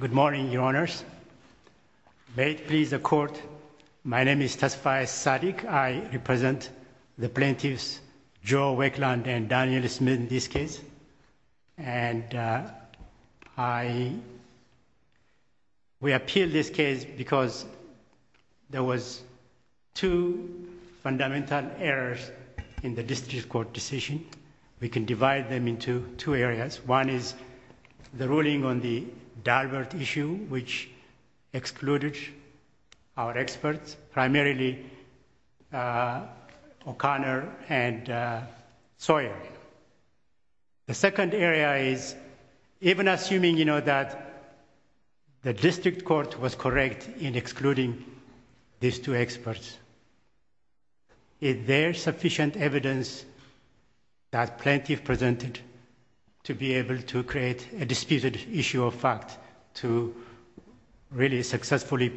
Good morning, Your Honors. May it please the Court, my name is Tassifai Sadiq. I represent the plaintiffs Joe Wakeland and Daniel Smith in this case. And I, we appeal this case because there was two fundamental errors in the district court decision. We can divide them into two areas. One is the ruling on the Dalbert issue, which excluded our experts, primarily O'Connor and Sawyer. The second area is even assuming, you know, that the district court was correct in excluding these two experts. Is there sufficient evidence that plaintiff presented to be able to create a disputed issue of fact to really successfully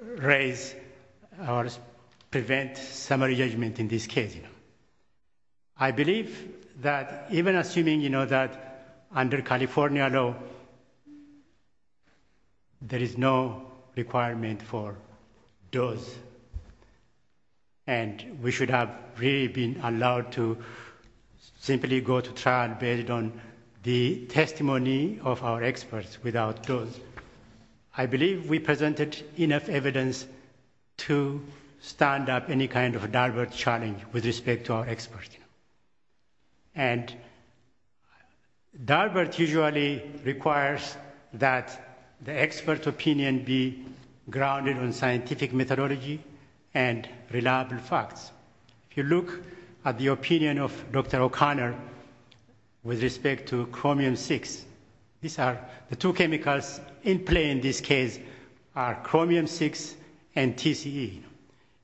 raise or prevent summary judgment in this case? I believe that even assuming, you know, that under California law, there is no requirement for those, and we should have really been allowed to simply go to trial based on the testimony of our experts without those. I believe we presented enough evidence to stand up any kind of a Dalbert challenge with respect to our experts. And Dalbert usually requires that the expert opinion be grounded on scientific methodology and reliable facts. If you look at the opinion of Dr. O'Connor with respect to chromium-6, these are the two chemicals in play in this case are chromium-6 and TCE.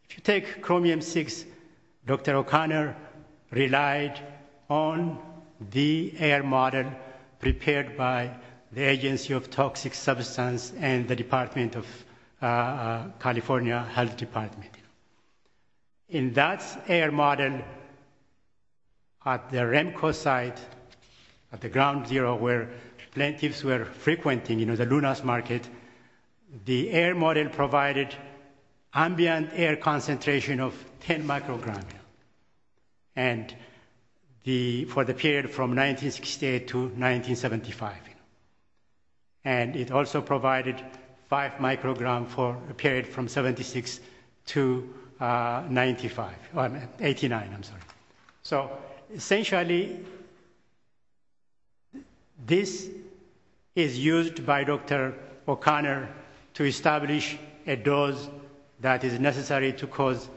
If you take chromium-6, Dr. O'Connor relied on the air model prepared by the agency of toxic substance and the department of California Health Department. In that air model at the Remco site at the ground zero where plaintiffs were frequenting, you know, the Luna's market, the air model provided ambient air concentration of 10 micrograms for the period from 1968 to 1975. And it also provided five micrograms for a period from 76 to 95, I mean, 89, I'm sorry. So essentially, this is used by Dr. O'Connor to establish a dose that is necessary to cause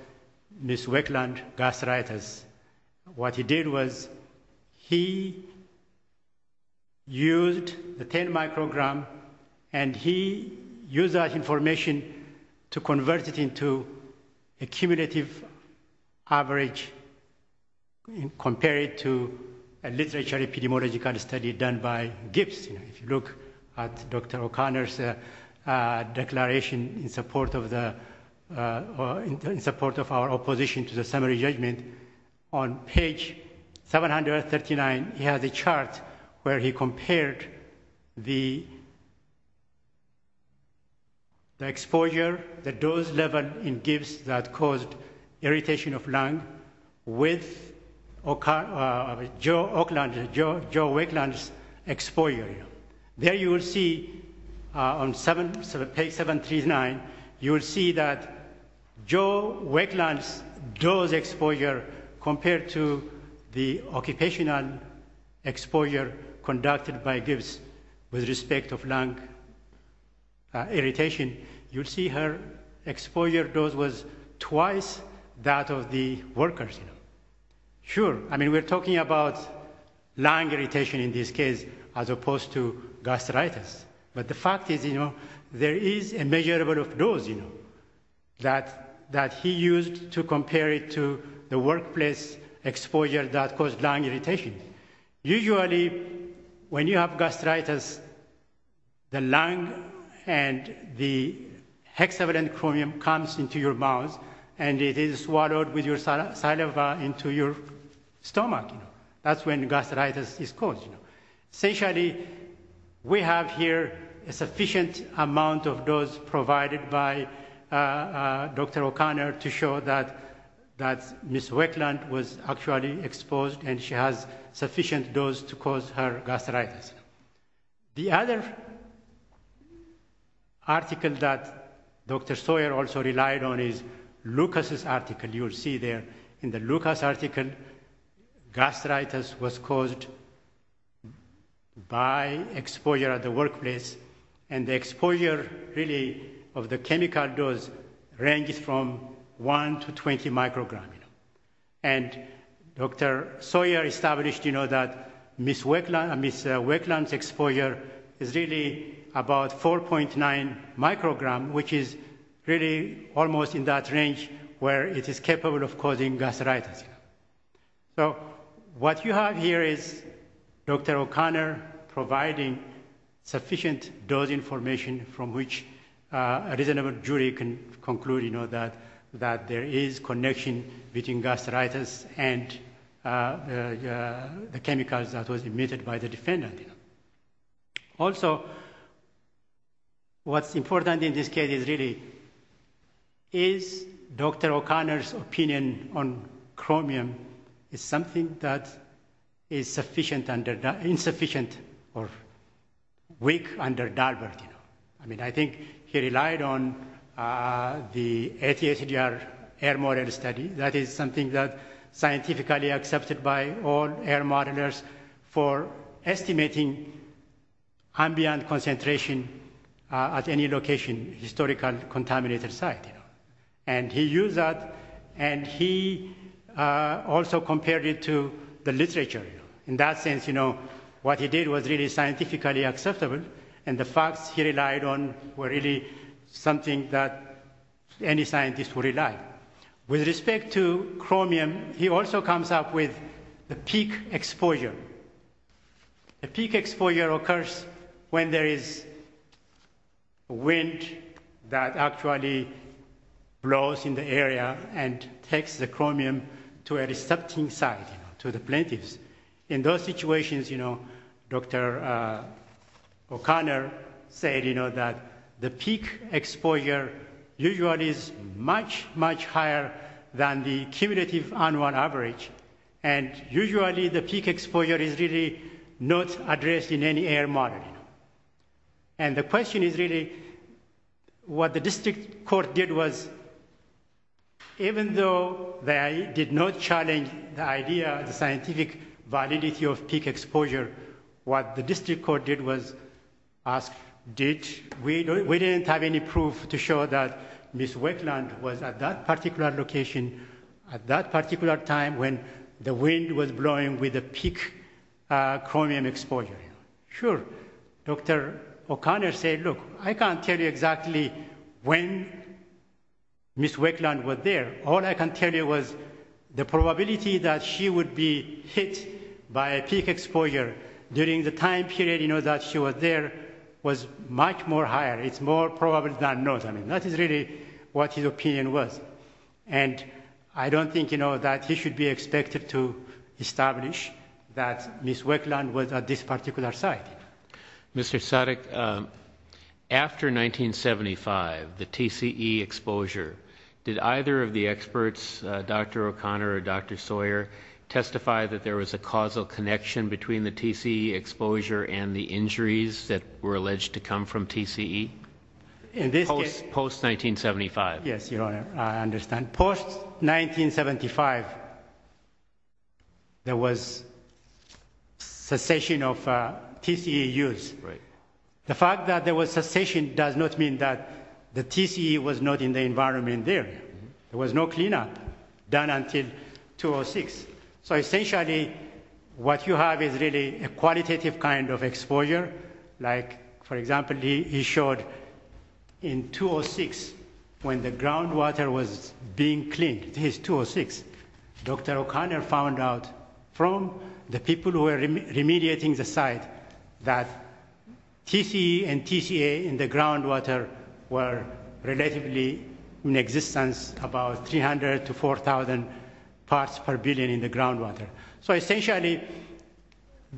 this wetland gastritis. What he did was he used the 10 microgram and he used that information to convert it into a cumulative average compared to a literature epidemiological study done by Gibbs. If you look at Dr. O'Connor's declaration in support of our opposition to the summary judgment, on page 739, he has a chart where he compared the exposure, the dose level in Gibbs that caused irritation of lung with Joe Wakeland's exposure. There you will see on page 739, you will see that Joe Wakeland's dose exposure compared to the occupational exposure conducted by Gibbs with respect of lung irritation, you'll see her exposure dose was twice that of the workers. Sure, I mean, we're talking about lung irritation in this case as opposed to gastritis, but the fact is, you know, there is a measurable dose, you know, that he used to compare it to the workplace exposure that caused lung irritation. Usually, when you have gastritis, the lung and the hexavalent chromium comes into your mouth and it is swallowed with your saliva into your stomach. That's when gastritis is caused. Essentially, we have here a sufficient amount of dose provided by Dr. O'Connor to show that Ms. Wakeland was actually exposed and she has sufficient dose to cause her gastritis. The other article that Dr. Sawyer also relied on is Lucas's article. You'll see there in the Lucas article, gastritis was caused by exposure at the workplace and the exposure really of the chemical dose ranges from 1 to 20 micrograms. And Dr. Sawyer established, you know, that Ms. Wakeland's exposure is really about 4.9 micrograms, which is really almost in that range where it is capable of causing gastritis. So what you have here is Dr. O'Connor providing sufficient dose information from which a reasonable jury can conclude, you know, that there is connection between gastritis and the chemicals that was emitted by the defendant. Also, what's important in this case is really is Dr. O'Connor's opinion on chromium is something that is insufficient or weak under DARPA, you know. I mean, I think he relied on the ATHDR air model study. That is something that scientifically accepted by all air modelers for estimating ambient concentration at any location, historical contaminated site, you know. And he used that and he also compared it to the literature, you know. In that sense, you know, what he did was really scientifically acceptable and the facts he relied on were really something that any scientist would rely. With respect to chromium, he also comes up with the peak exposure. The peak exposure occurs when there is wind that actually blows in the area and takes the chromium to a receptive site, to the plaintiffs. In those situations, you know, Dr. O'Connor said, you know, that the peak exposure usually is much, much higher than the cumulative annual average. And usually, the peak exposure is really not addressed in any air model. And the question is really what the district court did was, even though they did not challenge the idea, the scientific validity of peak exposure, what the district court did was ask, did, we didn't have any proof to show that Ms. Wakeland was at that particular location at that particular time when wind was blowing with a peak chromium exposure. Sure, Dr. O'Connor said, look, I can't tell you exactly when Ms. Wakeland was there. All I can tell you was the probability that she would be hit by a peak exposure during the time period, you know, that she was there was much more higher. It's more probable than not. I mean, that is really what his opinion was. And I don't think, that he should be expected to establish that Ms. Wakeland was at this particular site. Mr. Sadek, after 1975, the TCE exposure, did either of the experts, Dr. O'Connor or Dr. Sawyer testify that there was a causal connection between the TCE exposure and the injuries that were alleged to come from TCE post 1975? Yes, your honor, I understand. Post 1975, there was cessation of TCE use. The fact that there was cessation does not mean that the TCE was not in the environment there. There was no cleanup done until 2006. So essentially, what you have is really a qualitative kind of exposure. Like, for example, he showed in 2006, when the groundwater was being cleaned, his 2006, Dr. O'Connor found out from the people who were remediating the site that TCE and TCA in the groundwater were relatively in existence, about 300 to 4,000 parts per billion in the groundwater. So essentially,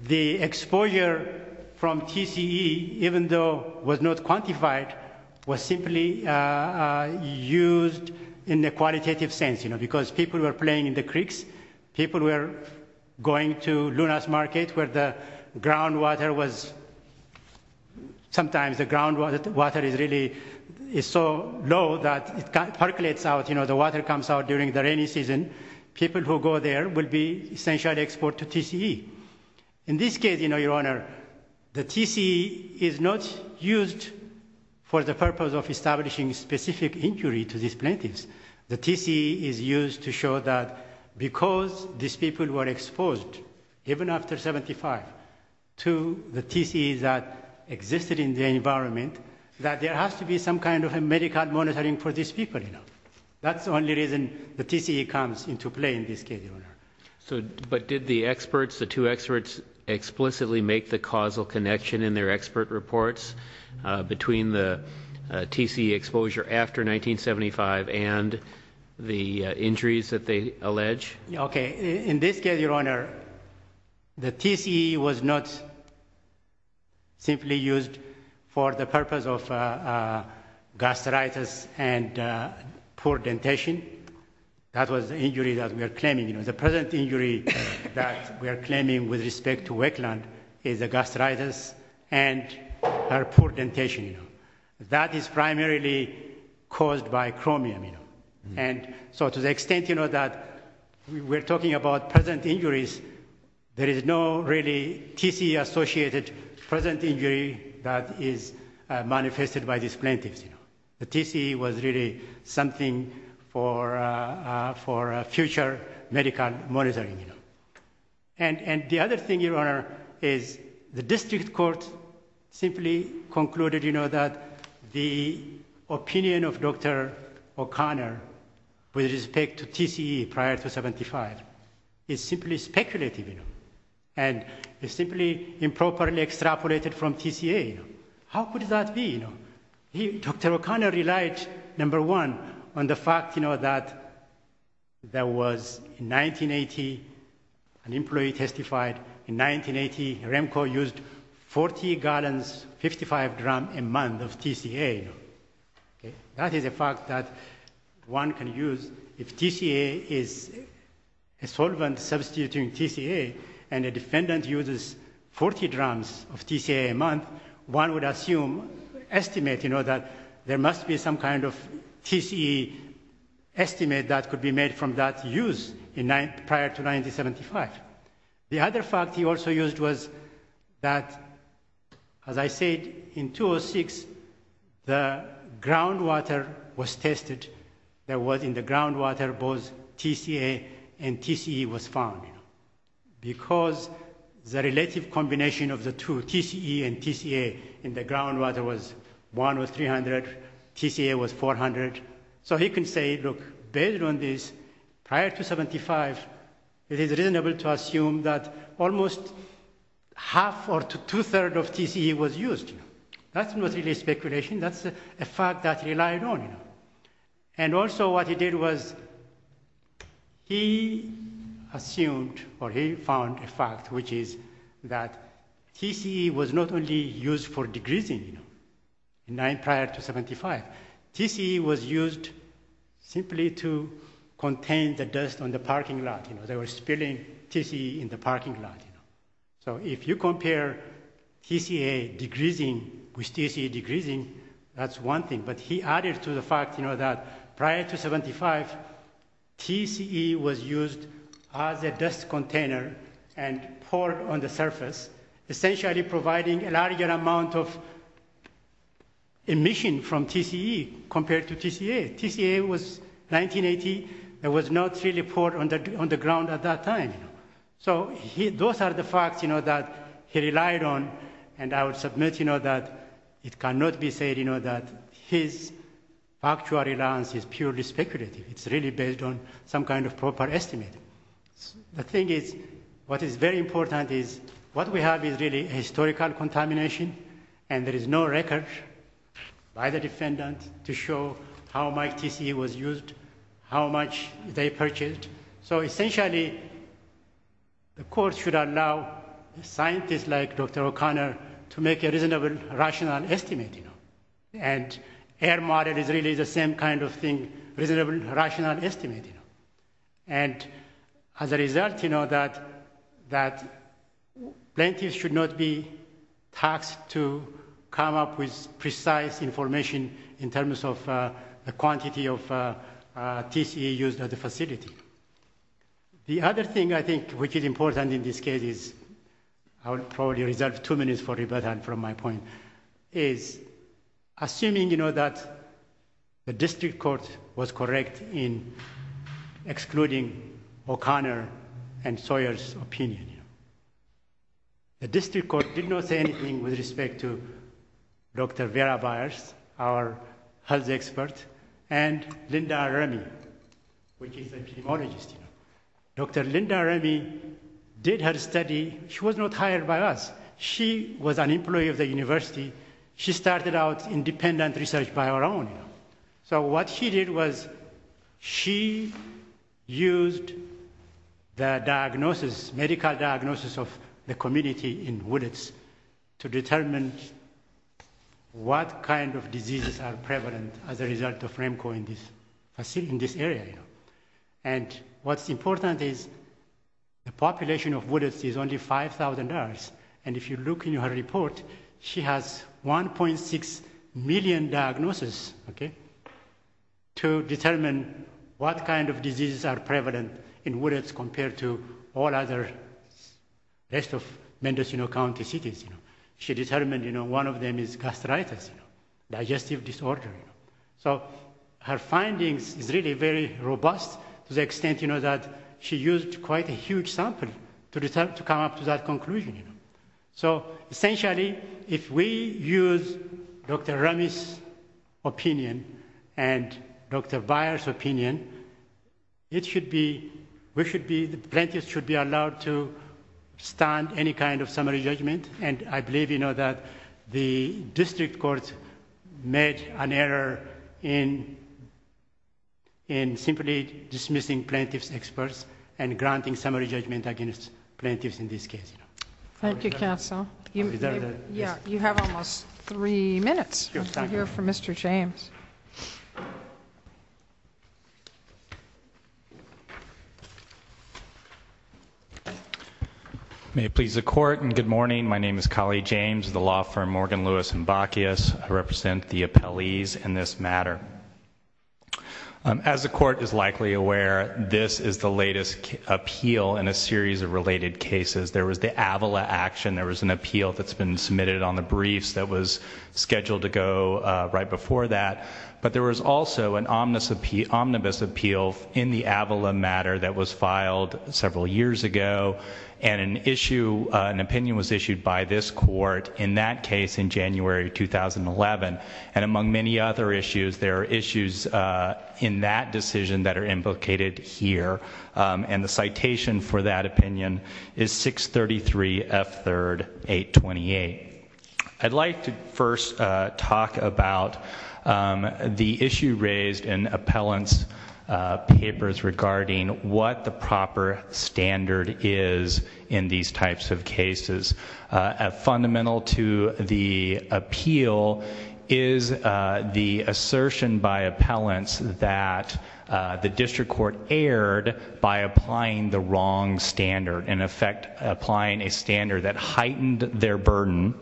the exposure from TCE, even though was not quantified, was simply used in a qualitative sense, you know, because people were playing in the creeks. People were going to Luna's Market where the groundwater was sometimes the groundwater is really is so low that it percolates out. You know, the water comes out during the rainy season. People who go there will be essentially export to TCE. In this case, you know, your honor, the TCE is not used for the purpose of establishing specific injury to these plaintiffs. The TCE is used to show that because these people were exposed, even after 75, to the TCE that existed in the environment, that there has to be some kind of medical monitoring for these people, you know. That's the only reason the TCE comes into play in this case, your honor. So, but did the experts, the two experts, explicitly make the causal connection in their expert reports between the TCE exposure after 1975 and the injuries that they The TCE was not simply used for the purpose of gastritis and poor dentation. That was the injury that we are claiming, you know, the present injury that we are claiming with respect to wetland is a gastritis and her poor dentation. That is primarily caused by chromium, you know. And so, to the extent, you know, that we're talking about present injuries, there is no really TCE associated present injury that is manifested by these plaintiffs, you know. The TCE was really something for future medical monitoring, you know. And the other thing, is the district court simply concluded, you know, that the opinion of Dr. O'Connor with respect to TCE prior to 75 is simply speculative, you know. And it's simply improperly extrapolated from TCA. How could that be, you know? Dr. O'Connor relied, number one, on the fact, you know, that there was in 1980, an employee testified in 1980, Remco used 40 gallons, 55 gram a month of TCA. That is a fact that one can use if TCA is a solvent substituting TCA and a defendant uses 40 grams of TCA a month, one would assume, estimate, you know, that there must be some TCE estimate that could be made from that use prior to 1975. The other fact he also used was that, as I said, in 2006, the groundwater was tested. There was in the groundwater both TCA and TCE was found, you know. Because the relative combination of the two, TCE and TCA, in the groundwater was one was 300, TCA was 400. So he can say, look, based on this, prior to 75, it is reasonable to assume that almost half or two-thirds of TCE was used. That's not really speculation. That's a fact that relied on, you know. And also what he did was, he assumed or he found a fact, which is that TCE was not only used for degreasing, you know, prior to 75. TCE was used simply to contain the dust on the parking lot, you know. They were spilling TCE in the parking lot, you know. So if you compare TCA degreasing with TCE degreasing, that's one thing. But he added to the fact, you know, that prior to 75, TCE was used as a dust container and poured on the surface, essentially providing a larger amount of emission from TCE compared to TCA. TCA was 1980. It was not really poured on the ground at that time. So those are the facts, you know, that he relied on. And I would submit, you know, that it cannot be said, you know, that his factual reliance is purely speculative. It's really based on some kind of proper estimate. The thing is, what is very important is, what we have is really historical contamination, and there is no record by the defendant to show how much TCE was used, how much they purchased. So essentially, the court should allow scientists like Dr. O'Connor to make a reasonable, rational estimate, you know. And air model is really the same kind of thing, reasonable, rational estimate, you know. And as a result, you know, that plaintiffs should not be tasked to come up with precise information in terms of the quantity of TCE used at the facility. The other thing I think which is important in this case is, I would probably reserve two minutes for rebuttal from my point, is assuming, you know, that the district court was correct in excluding O'Connor and Sawyer's opinion. The district court did not say anything with respect to Dr. Vera Byers, our health expert, and Linda Remy, which is epidemiologist. Dr. Linda Remy did her study. She was not hired by us. She was an employee of the university. She started out independent research by her own. So what she did was, she used the diagnosis, medical diagnosis of the community in Willits to determine what kind of diseases are prevalent as a result of Remco in this facility, in this area, you know. And what's important is the population of Willits is only 5,000. And if you look in her report, she has 1.6 million diagnosis, okay, to determine what kind of she determined, you know, one of them is gastritis, digestive disorder. So her findings is really very robust to the extent, you know, that she used quite a huge sample to come up to that conclusion, you know. So essentially, if we use Dr. Remy's opinion and Dr. Byers opinion, it should be, we should be, the plaintiffs should be allowed to any kind of summary judgment. And I believe, you know, that the district courts made an error in simply dismissing plaintiffs experts and granting summary judgment against plaintiffs in this case. Thank you, counsel. You have almost three minutes here for Mr. James. May it please the court and good morning. My name is Kali James, the law firm, Morgan, Lewis, and Bacchius. I represent the appellees in this matter. As the court is likely aware, this is the latest appeal in a series of related cases. There was the Avila action, there was an appeal that's been submitted on the briefs that was scheduled to go right before that. But there was also an omnibus appeal in the Avila matter that was filed several years ago. And an issue, an opinion was issued by this court in that case in January, 2011. And among many other issues, there are issues in that decision that are implicated here. And the citation for that opinion is 633 F3rd 828. I'd like to first talk about the issue raised in appellant's papers regarding what the proper standard is in these types of cases. Fundamental to the appeal is the assertion by appellants that the district court erred by applying the wrong standard, in effect, applying a standard that heightened their burden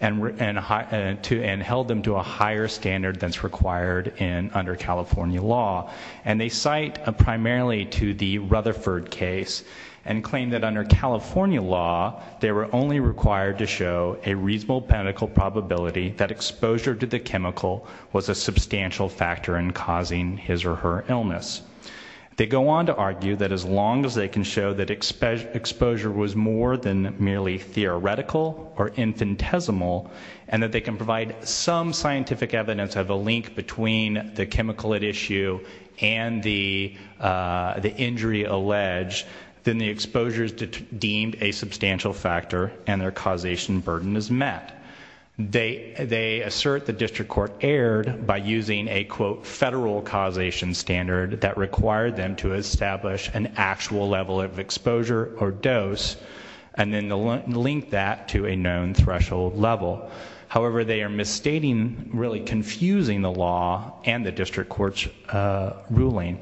and held them to a higher standard than's required under California law. And they cite primarily to the Rutherford case and claim that under California law, they were only required to show a reasonable medical probability that exposure to the chemical was a substantial factor in causing his or her illness. They go on to argue that as long as they can show that exposure was more than merely theoretical or infinitesimal, and that they can provide some scientific evidence of a link between the chemical at issue and the injury alleged, then the exposure is deemed a substantial factor and their causation burden is met. They assert the district court erred by using a quote federal causation standard that required them to establish an actual level of exposure or dose and then link that to a known threshold level. However, they are misstating, really confusing the law and the district court's ruling.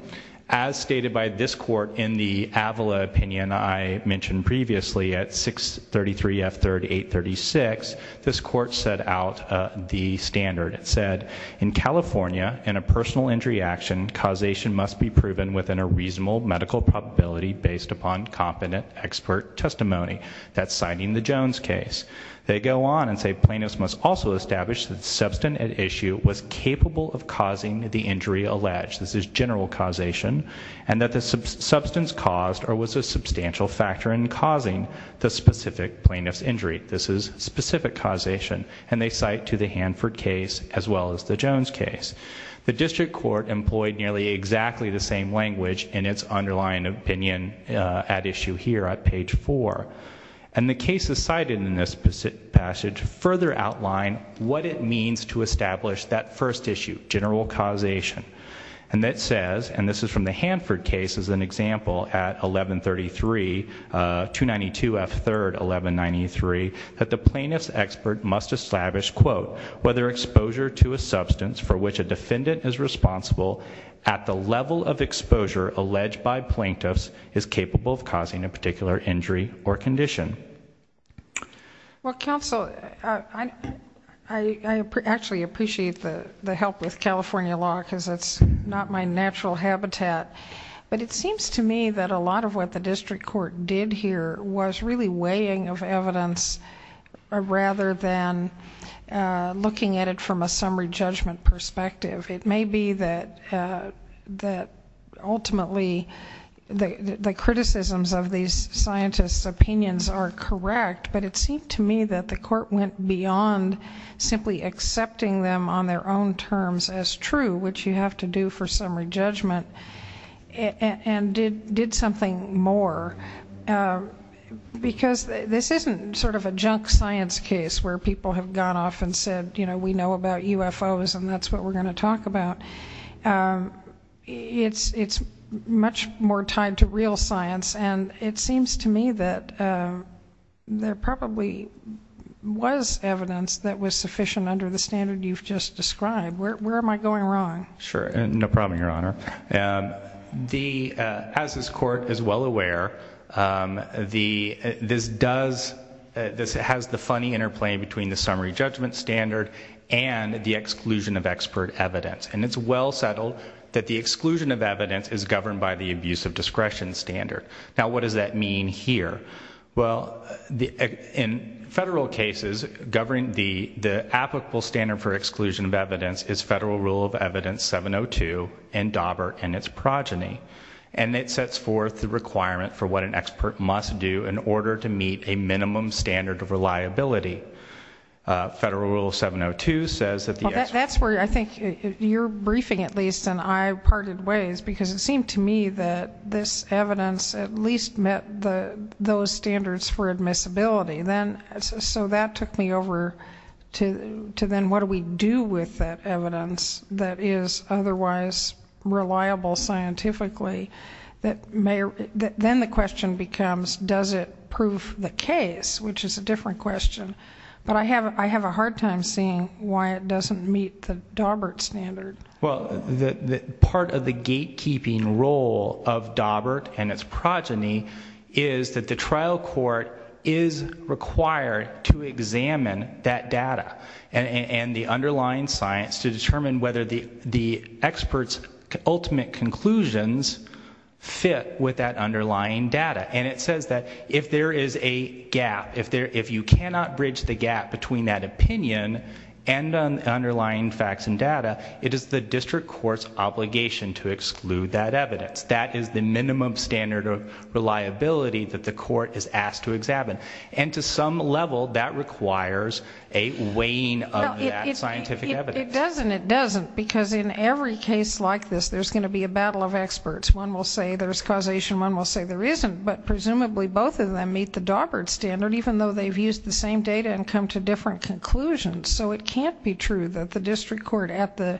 As stated by this court in the Avila opinion I mentioned previously at 633 F3rd 836, this court set out the standard. It said in California in a personal injury action causation must be proven within a reasonable medical probability based upon competent expert testimony. That's citing the Jones case. They go on and say plaintiffs must also establish that substance at issue was capable of causing the injury alleged. This is general causation and that the substance caused or was a substantial factor in causing the specific plaintiff's injury. This is specific causation and they cite to the Hanford case as well as the Jones case. The district court employed nearly exactly the same language in its underlying opinion at issue here at page four. And the cases cited in this passage further outline what it means to establish that first issue, general causation. And that says, and this is from the Hanford case as an example at 1133, 292 F3rd 1193, that the plaintiff's expert must establish, quote, whether exposure to a substance for which a defendant is responsible at the level of exposure alleged by plaintiffs is capable of causing a particular injury or condition. Well, counsel, I actually appreciate the help with California law because it's not my natural habitat. But it seems to me that a lot of what the district court did here was really weighing of evidence rather than looking at it from a summary judgment perspective. It may be that ultimately the criticisms of these scientists' opinions are correct, but it seemed to me that the court went beyond simply accepting them on their own terms as true, which you have to do for summary judgment, and did something more. Because this isn't sort of a junk science case where people have gone off and said, you know, we know about UFOs and that's what we're going to talk about. It's much more tied to real science. And it seems to me that there probably was evidence that was sufficient under the standard you've just described. Where am I going wrong? Sure. No problem, Your Honor. As this court is well aware, this has the funny interplay between the summary judgment standard and the exclusion of expert evidence. And it's well settled that the exclusion of evidence is governed by the abuse of discretion standard. Now, what does that mean here? Well, in federal cases, the applicable standard for exclusion of evidence is Federal Rule of Evidence 702 and Daubert and its progeny. And it sets forth the requirement for what an expert must do in order to meet a minimum standard of reliability. Federal Rule 702 says that that's where I think you're briefing, at least, and I parted ways because it seemed to me that this evidence at least met the those standards for admissibility. Then so that took me over to to then what do we do with that evidence that is otherwise reliable scientifically that may then the question becomes does it prove the case, which is a different question. But I have I have a hard time seeing why it doesn't meet the Daubert standard. Well, the part of the gatekeeping role of Daubert and its progeny is that the trial court is required to examine that data and the underlying science to determine whether the experts' ultimate conclusions fit with that underlying data. And it says that if there is a gap, if you cannot bridge the gap between that opinion and underlying facts and data, it is the district court's obligation to exclude that evidence. That is the minimum standard of reliability that the court is asked to examine. And to some level that requires a weighing of that scientific evidence. It doesn't. It doesn't. Because in every case like this, there's going to be a battle of experts. One will say there's causation. One will say there isn't. But presumably both of them meet the Daubert standard, even though they've used the same data and come to different conclusions. So it can't be true that the district court at the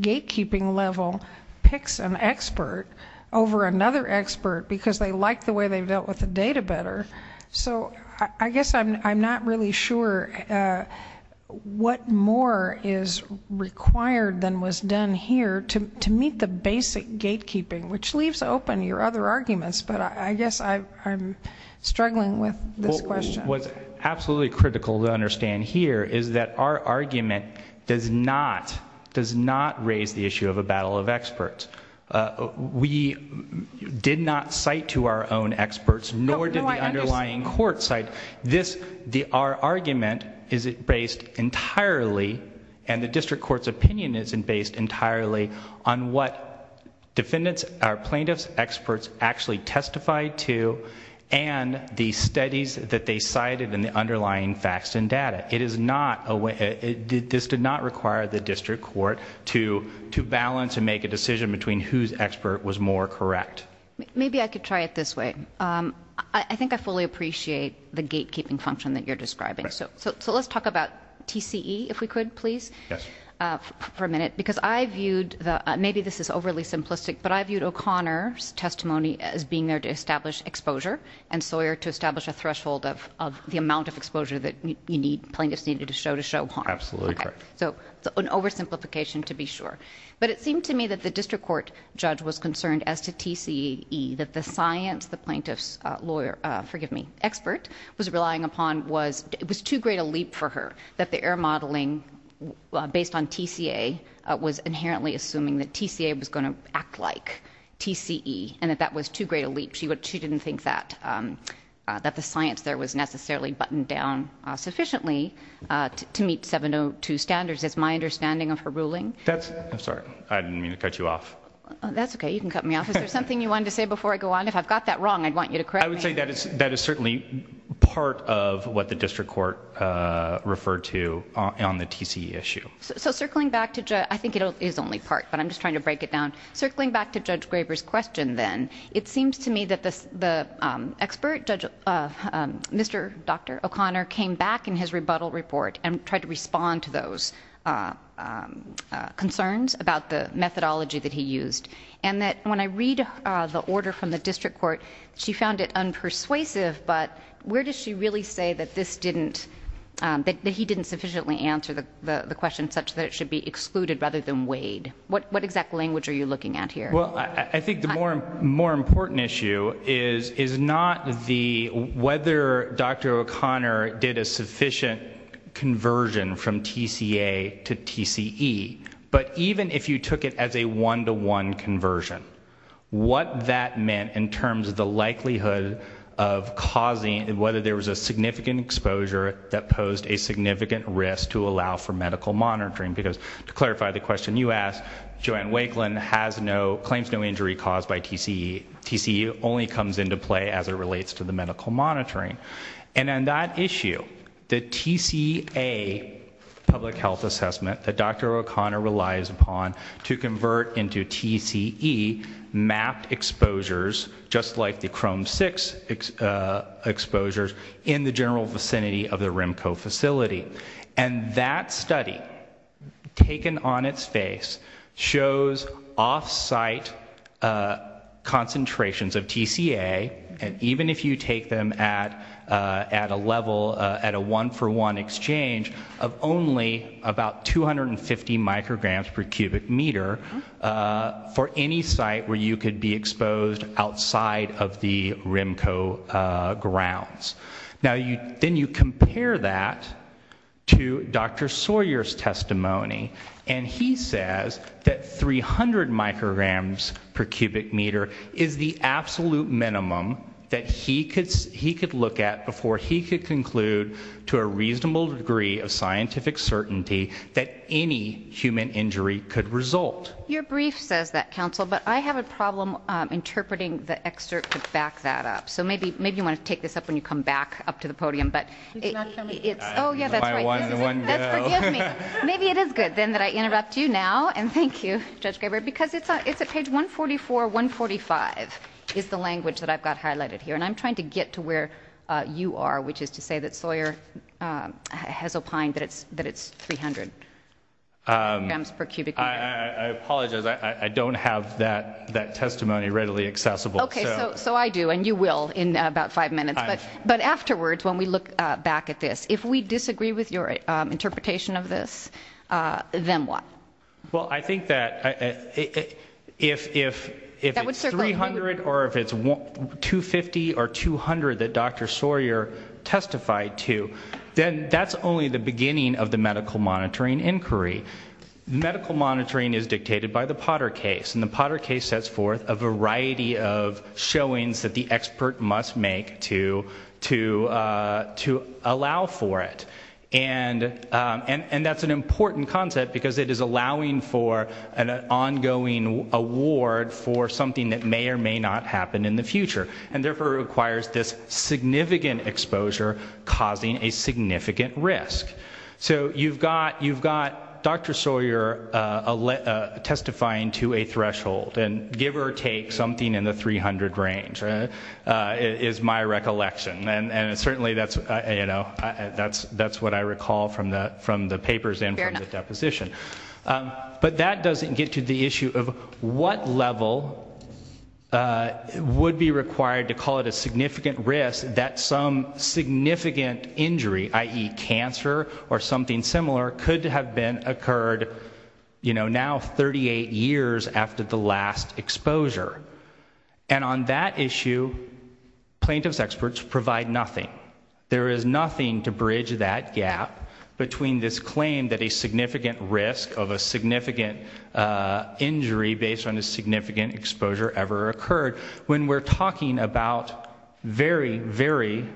gatekeeping level picks an expert over another expert because they like the way they've dealt with the data better. So I guess I'm not really sure what more is required than was done here to meet the basic gatekeeping, which leaves open your other arguments. But I guess I'm struggling with this question. What's absolutely critical to understand here is that our argument does not raise the issue of a battle of experts. We did not cite to our own experts, nor did the underlying court cite. Our argument is based entirely, and the district court's opinion is based entirely, on what defendants or plaintiffs experts actually testified to and the studies that they cited and the underlying facts and data. This did not require the district court to balance and make a decision between whose expert was more correct. Maybe I could try it this way. I think I fully appreciate the gatekeeping function that you're describing. So let's talk about TCE, if we could, please, for a minute. Because I viewed, maybe this is overly simplistic, but I viewed O'Connor's testimony as being there to establish exposure and Sawyer to establish a threshold of the plaintiffs needed to show to show harm. Absolutely correct. So it's an oversimplification to be sure. But it seemed to me that the district court judge was concerned as to TCE, that the science the plaintiff's lawyer, forgive me, expert was relying upon was, it was too great a leap for her that the error modeling based on TCA was inherently assuming that TCA was going to act like TCE and that that was too great a leap. She didn't think that the science there was necessarily buttoned down sufficiently to meet 702 standards. That's my understanding of her ruling. That's, I'm sorry, I didn't mean to cut you off. That's okay. You can cut me off. Is there something you wanted to say before I go on? If I've got that wrong, I'd want you to correct me. I would say that is certainly part of what the district court referred to on the TCE issue. So circling back to, I think it is only part, but I'm just trying to break it down. Circling back to Judge Graber's question then, it seems to me that the expert, Mr. Dr. O'Connor, came back in his rebuttal report and tried to respond to those concerns about the methodology that he used. And that when I read the order from the district court, she found it unpersuasive, but where does she really say that this didn't, that he didn't sufficiently answer the question such that it should be excluded rather than weighed? What exact language are you looking at here? Well, I think the more important issue is not the, whether Dr. O'Connor did a sufficient conversion from TCA to TCE, but even if you took it as a one-to-one conversion, what that meant in terms of the likelihood of causing, whether there was a significant exposure that posed a significant risk to allow for medical monitoring. Because to clarify the question you asked, Joanne Wakelin claims no injury caused by TCE. TCE only comes into play as it relates to the medical monitoring. And on that issue, the TCA public health assessment that Dr. O'Connor relies upon to convert into TCE mapped exposures, just like the Chrome 6 exposures in the general vicinity of the RIMCO facility. And that study taken on its face shows offsite concentrations of TCA. And even if you take them at a level, at a one-for-one exchange of only about 250 micrograms per cubic meter for any site where you could be exposed outside of the RIMCO grounds. Now you, then you compare that to Dr. Sawyer's testimony. And he says that 300 micrograms per cubic meter is the absolute minimum that he could look at before he could conclude to a reasonable degree of scientific certainty that any human injury could result. Your brief says that counsel, but I have a problem interpreting the excerpt to back that up. So maybe you want to take this up when you come back up to the podium, but it's, oh yeah, that's right. Maybe it is good then that I interrupt you now. And thank you, Judge Gabriel, because it's a, it's a page 144, 145 is the language that I've got highlighted here. And I'm trying to get to where you are, which is to say that Sawyer has opined that it's, that it's 300 grams per cubic meter. I apologize. I don't have that, that testimony readily accessible. Okay. So, so I do, and you will in about five minutes, but, but afterwards, when we look back at this, if we disagree with your interpretation of this, then what? Well, I think that if, if, if it's 300 or if it's 250 or 200 that Dr. Sawyer testified to, then that's only the beginning of the medical monitoring inquiry. Medical monitoring is dictated by the Potter case and the Potter case sets forth a variety of showings that the expert must make to, to, uh, to allow for it. And, um, and, and that's an important concept because it is allowing for an ongoing award for something that may or may not happen in the future and therefore requires this significant exposure causing a significant risk. So you've got, you've got Dr. Sawyer, uh, uh, testifying to a threshold and give or take something in the 300 range, uh, is my recollection. And, and it's certainly that's, you know, that's, that's what I recall from the, from the papers and from the deposition. Um, but that doesn't get to the issue of what level, uh, would be required to call it a significant risk that some significant injury, i.e. cancer or something similar could have been occurred, you know, now 38 years after the last exposure. And on that issue, plaintiff's experts provide nothing. There is nothing to bridge that gap between this claim that a significant risk of a significant, uh, injury based on a significant exposure ever occurred when we're talking about very, very,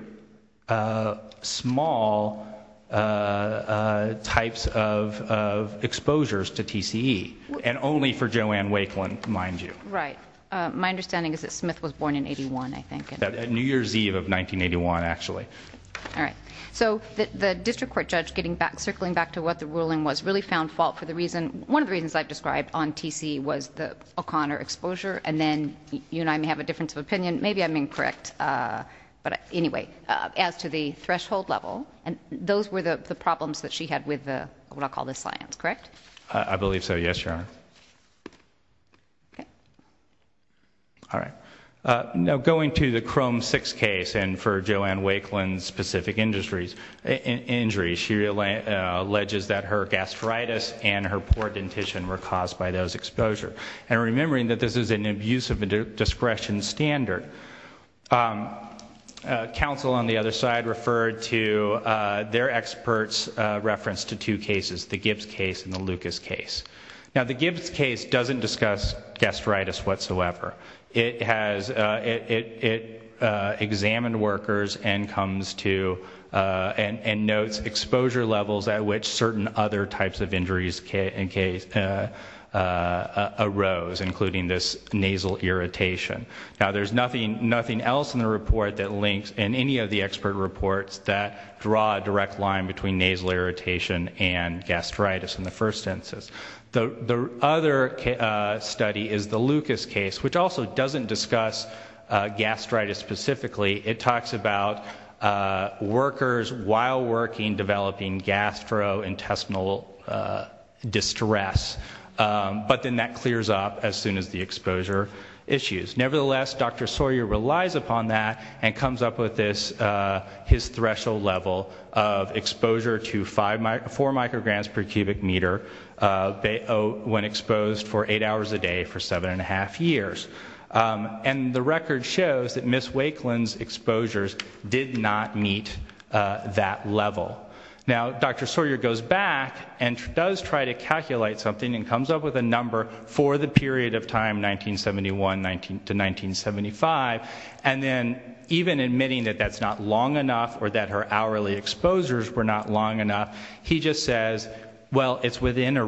uh, small, uh, uh, types of, of exposures to TCE and only for Joanne Wakelin, mind you. Right. Uh, my understanding is that Smith was born in 81, I think. New Year's Eve of 1981, actually. All right. So the, the district court judge getting back, circling back to what the ruling was really found fault for the reason, one of the reasons I've described on TCE was the O'Connor exposure. And then you and I may have a difference of opinion. Maybe I'm incorrect. Uh, but anyway, uh, as to the threshold level and those were the problems that she had with the, what I'll call the science, correct? I believe so. Yes, Your Honor. Okay. All right. Uh, now going to the Chrome six case and for Joanne Wakelin specific industries, injuries, she alleges that her gastritis and her poor dentition were caused by those exposure. And remembering that this is an abuse of discretion standard, um, uh, counsel on the other side referred to, uh, their experts, uh, reference to two cases, the Gibbs case and the Lucas case. Now the Gibbs case doesn't discuss gastritis whatsoever. It has, uh, it, it, uh, examined workers and comes to, uh, and, and notes exposure levels at which certain other types of injuries in case, uh, uh, uh, arose, including this nasal irritation. Now there's nothing, nothing else in the report that links and any of the expert reports that draw a direct line between nasal irritation and gastritis in the first census. The, the other, uh, study is the Lucas case, which also doesn't discuss, uh, gastritis specifically. It talks about, uh, workers while working, developing gastrointestinal, uh, distress. Um, but then that clears up as soon as the exposure issues. Nevertheless, Dr. Sawyer relies upon that and comes up with this, uh, his threshold level of exposure to five micro four micrograms per seven and a half years. Um, and the record shows that Ms. Wakelin's exposures did not meet, uh, that level. Now Dr. Sawyer goes back and does try to calculate something and comes up with a number for the period of time, 1971, 19 to 1975. And then even admitting that that's not long enough or that her hourly exposures were not long enough, he just says, well, it's within a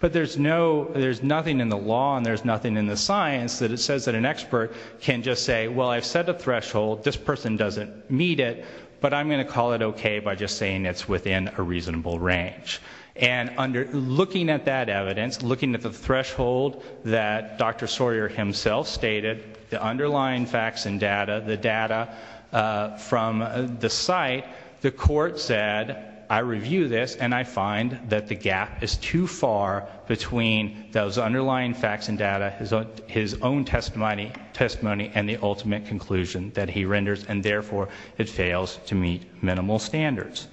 But there's no, there's nothing in the law and there's nothing in the science that it says that an expert can just say, well, I've set a threshold, this person doesn't meet it, but I'm going to call it okay by just saying it's within a reasonable range. And under looking at that evidence, looking at the threshold that Dr. Sawyer himself stated, the underlying facts and data, the data, uh, from the site, the court said, I review this and I find that the gap is too far between those underlying facts and data, his own, his own testimony, testimony, and the ultimate conclusion that he renders. And therefore it fails to meet minimal standards.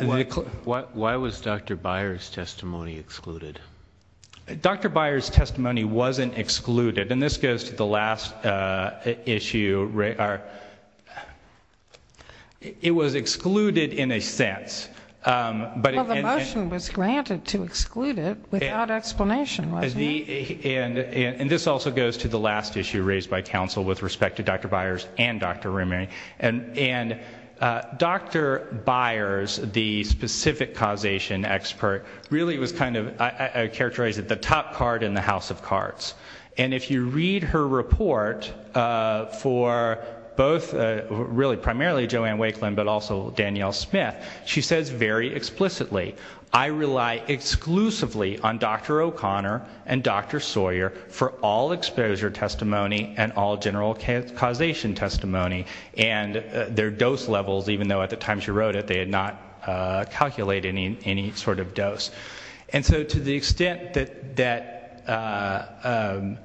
Why was Dr. Byers testimony excluded? Dr. Byers testimony wasn't excluded. And this goes to the last, uh, issue, right? It was excluded in a sense. Um, but the motion was granted to exclude it without explanation. And this also goes to the last issue raised by council with respect to Dr. Byers and Dr. really was kind of characterized at the top card in the house of cards. And if you read her report, uh, for both, uh, really primarily Joanne Wakelin, but also Danielle Smith, she says very explicitly, I rely exclusively on Dr. O'Connor and Dr. Sawyer for all exposure testimony and all general causation testimony and their dose levels, even though at the time she wrote it, they had not, uh, calculated any, any sort of dose. And so to the extent that, that, uh, um,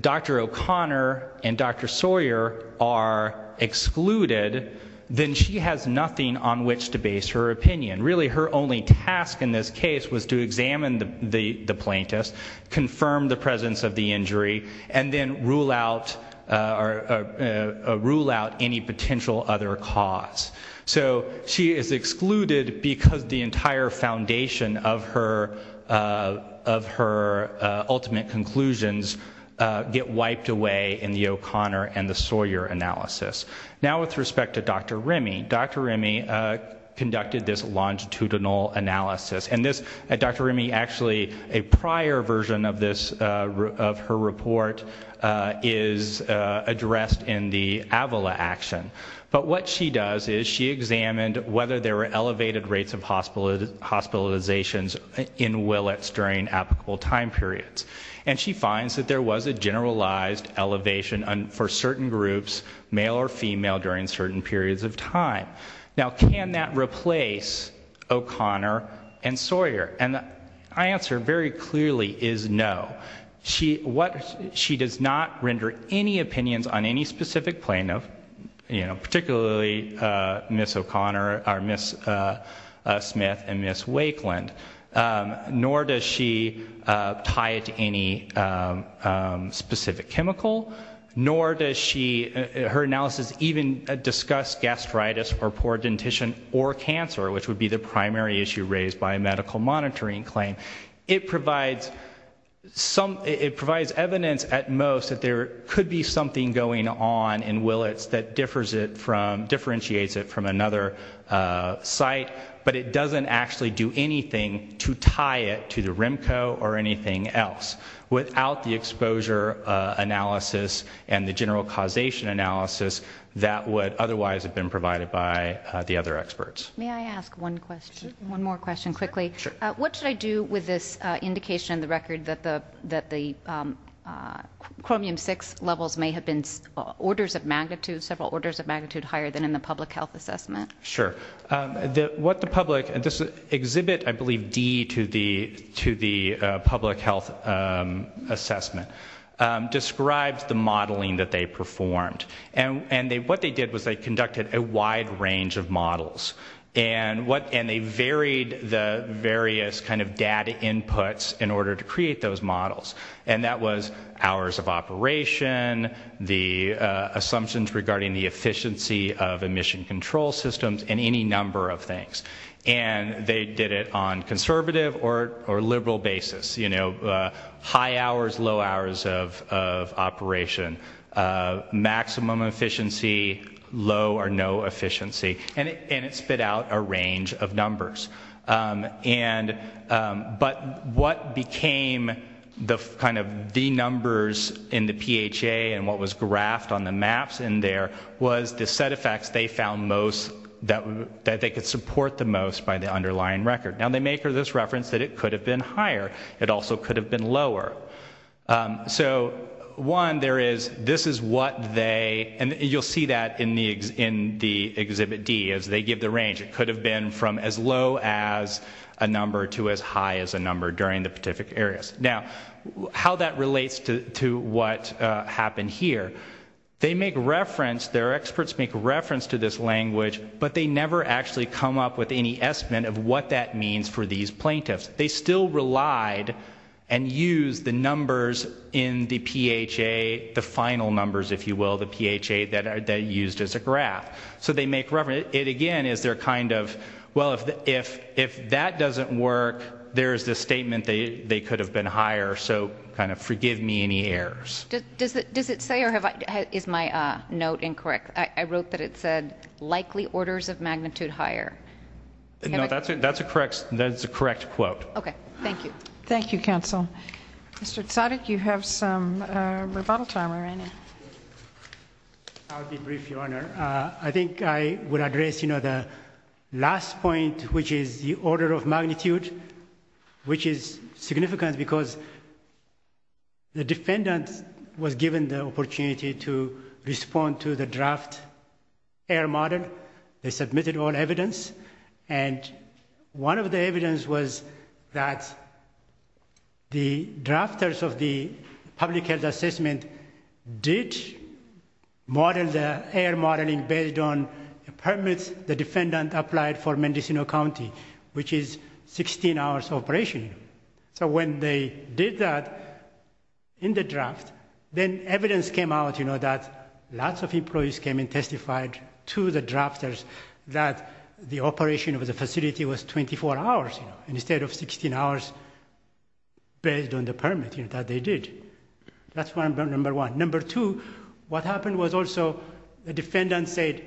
Dr. O'Connor and Dr. Sawyer are excluded, then she has nothing on which to base her opinion. Really her only task in this case was to examine the, the, the plaintiffs, confirm the presence of the injury and then rule out, uh, or, uh, uh, rule out any potential other cause. So she is excluded because the entire foundation of her, uh, of her, uh, ultimate conclusions, uh, get wiped away in the O'Connor and the Sawyer analysis. Now with respect to Dr. Remy, Dr. Remy, uh, conducted this longitudinal analysis and this Dr. Remy, actually a prior version of this, uh, of her report, uh, is, uh, addressed in the Avila action. But what she does is she examined whether there were elevated rates of hospital hospitalizations in Willets during applicable time periods. And she finds that there was a generalized elevation for certain groups, male or female during certain periods of time. Now, can that replace O'Connor and Sawyer? And the answer very clearly is no. She, what, she does not render any opinions on any specific plaintiff, you know, particularly, uh, Miss O'Connor or Miss, uh, uh, Smith and Miss Wakeland. Um, nor does she, uh, tie it to any, um, um, specific chemical, nor does she, uh, her analysis even discuss gastritis or poor dentition or cancer, which would be the primary issue raised by a medical monitoring claim. It provides some, it provides evidence at most that there could be something going on in Willets that differs it from, differentiates it from another, uh, site, but it doesn't actually do anything to tie it to the and the general causation analysis that would otherwise have been provided by, uh, the other experts. May I ask one question, one more question quickly? Sure. What should I do with this, uh, indication in the record that the, that the, um, uh, chromium six levels may have been orders of magnitude, several orders of magnitude higher than in the public health assessment. Sure. Um, the, what the public and this exhibit, I believe D to the, to the, uh, public health, um, assessment, um, describes the modeling that they performed and, and they, what they did was they conducted a wide range of models and what, and they varied the various kind of data inputs in order to create those models. And that was hours of operation, the, uh, assumptions regarding the efficiency of emission control systems and any number of things. And they did it on conservative or, or liberal basis, you know, uh, high hours, low hours of, of operation, uh, maximum efficiency, low or no efficiency. And it, and it spit out a range of numbers. Um, and, um, but what became the kind of the numbers in the PHA and what was graphed on the maps in there was the set of facts they found most that they could support the most by the underlying record. Now they make this reference that it could have been higher. It also could have been lower. Um, so one, there is, this is what they, and you'll see that in the, in the exhibit D as they give the range, it could have been from as low as a number to as high as a number during the Pacific areas. Now how that relates to, to what, uh, happened here. They make reference, their experts make reference to this language, but they never actually come up with any estimate of what that means for these plaintiffs. They still relied and use the numbers in the PHA, the final numbers, if you will, the PHA that are used as a graph. So they make reference it again, is there a kind of, well, if, if, if that doesn't work, there's the statement that they could have been higher. So kind of forgive me any errors. Does it, does it say, or have I, is my, uh, note incorrect? I wrote that it said likely orders of magnitude higher. No, that's it. That's a correct, that's the correct quote. Okay. Thank you. Thank you, counsel. Mr. Tsadik, you have some, uh, rebuttal time. I'll be brief your honor. Uh, I think I would address, you know, the last point, which is the order of magnitude, which is significant because the defendant was given the opportunity to respond to the draft air model. They submitted all evidence. And one of the evidence was that the drafters of the public health assessment did model the air modeling based on the permits the defendant applied for Mendocino County, which is 16 hours operation. So when they did that in the draft, then evidence came out, you know, that lots of employees came and testified to the drafters that the operation of the facility was 24 hours, you know, instead of 16 hours based on the permit, you know, that they did. That's why I'm number one. Number two, what happened was also the defendant said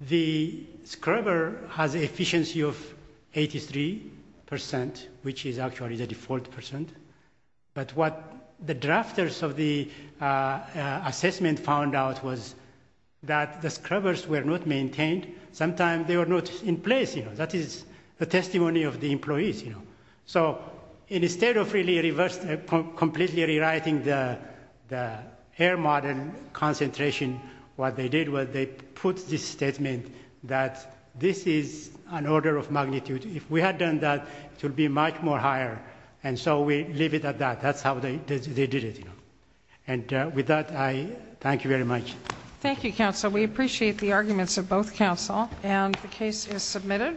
the scrubber has efficiency of 83 percent, which is actually the default percent. But what the drafters of the, uh, assessment found out was that the scrubbers were not maintained. Sometimes they were not in place, you know, that is the testimony of the employees, you know. So instead of really reversed, completely rewriting the air model concentration, what they did was they put this statement that this is an order of magnitude. If we had done that, it would be much more higher. And so we leave it at that. That's how they did it, you know. And with that, I thank you very much. Thank you, counsel. We appreciate the arguments of both counsel. And the case is submitted.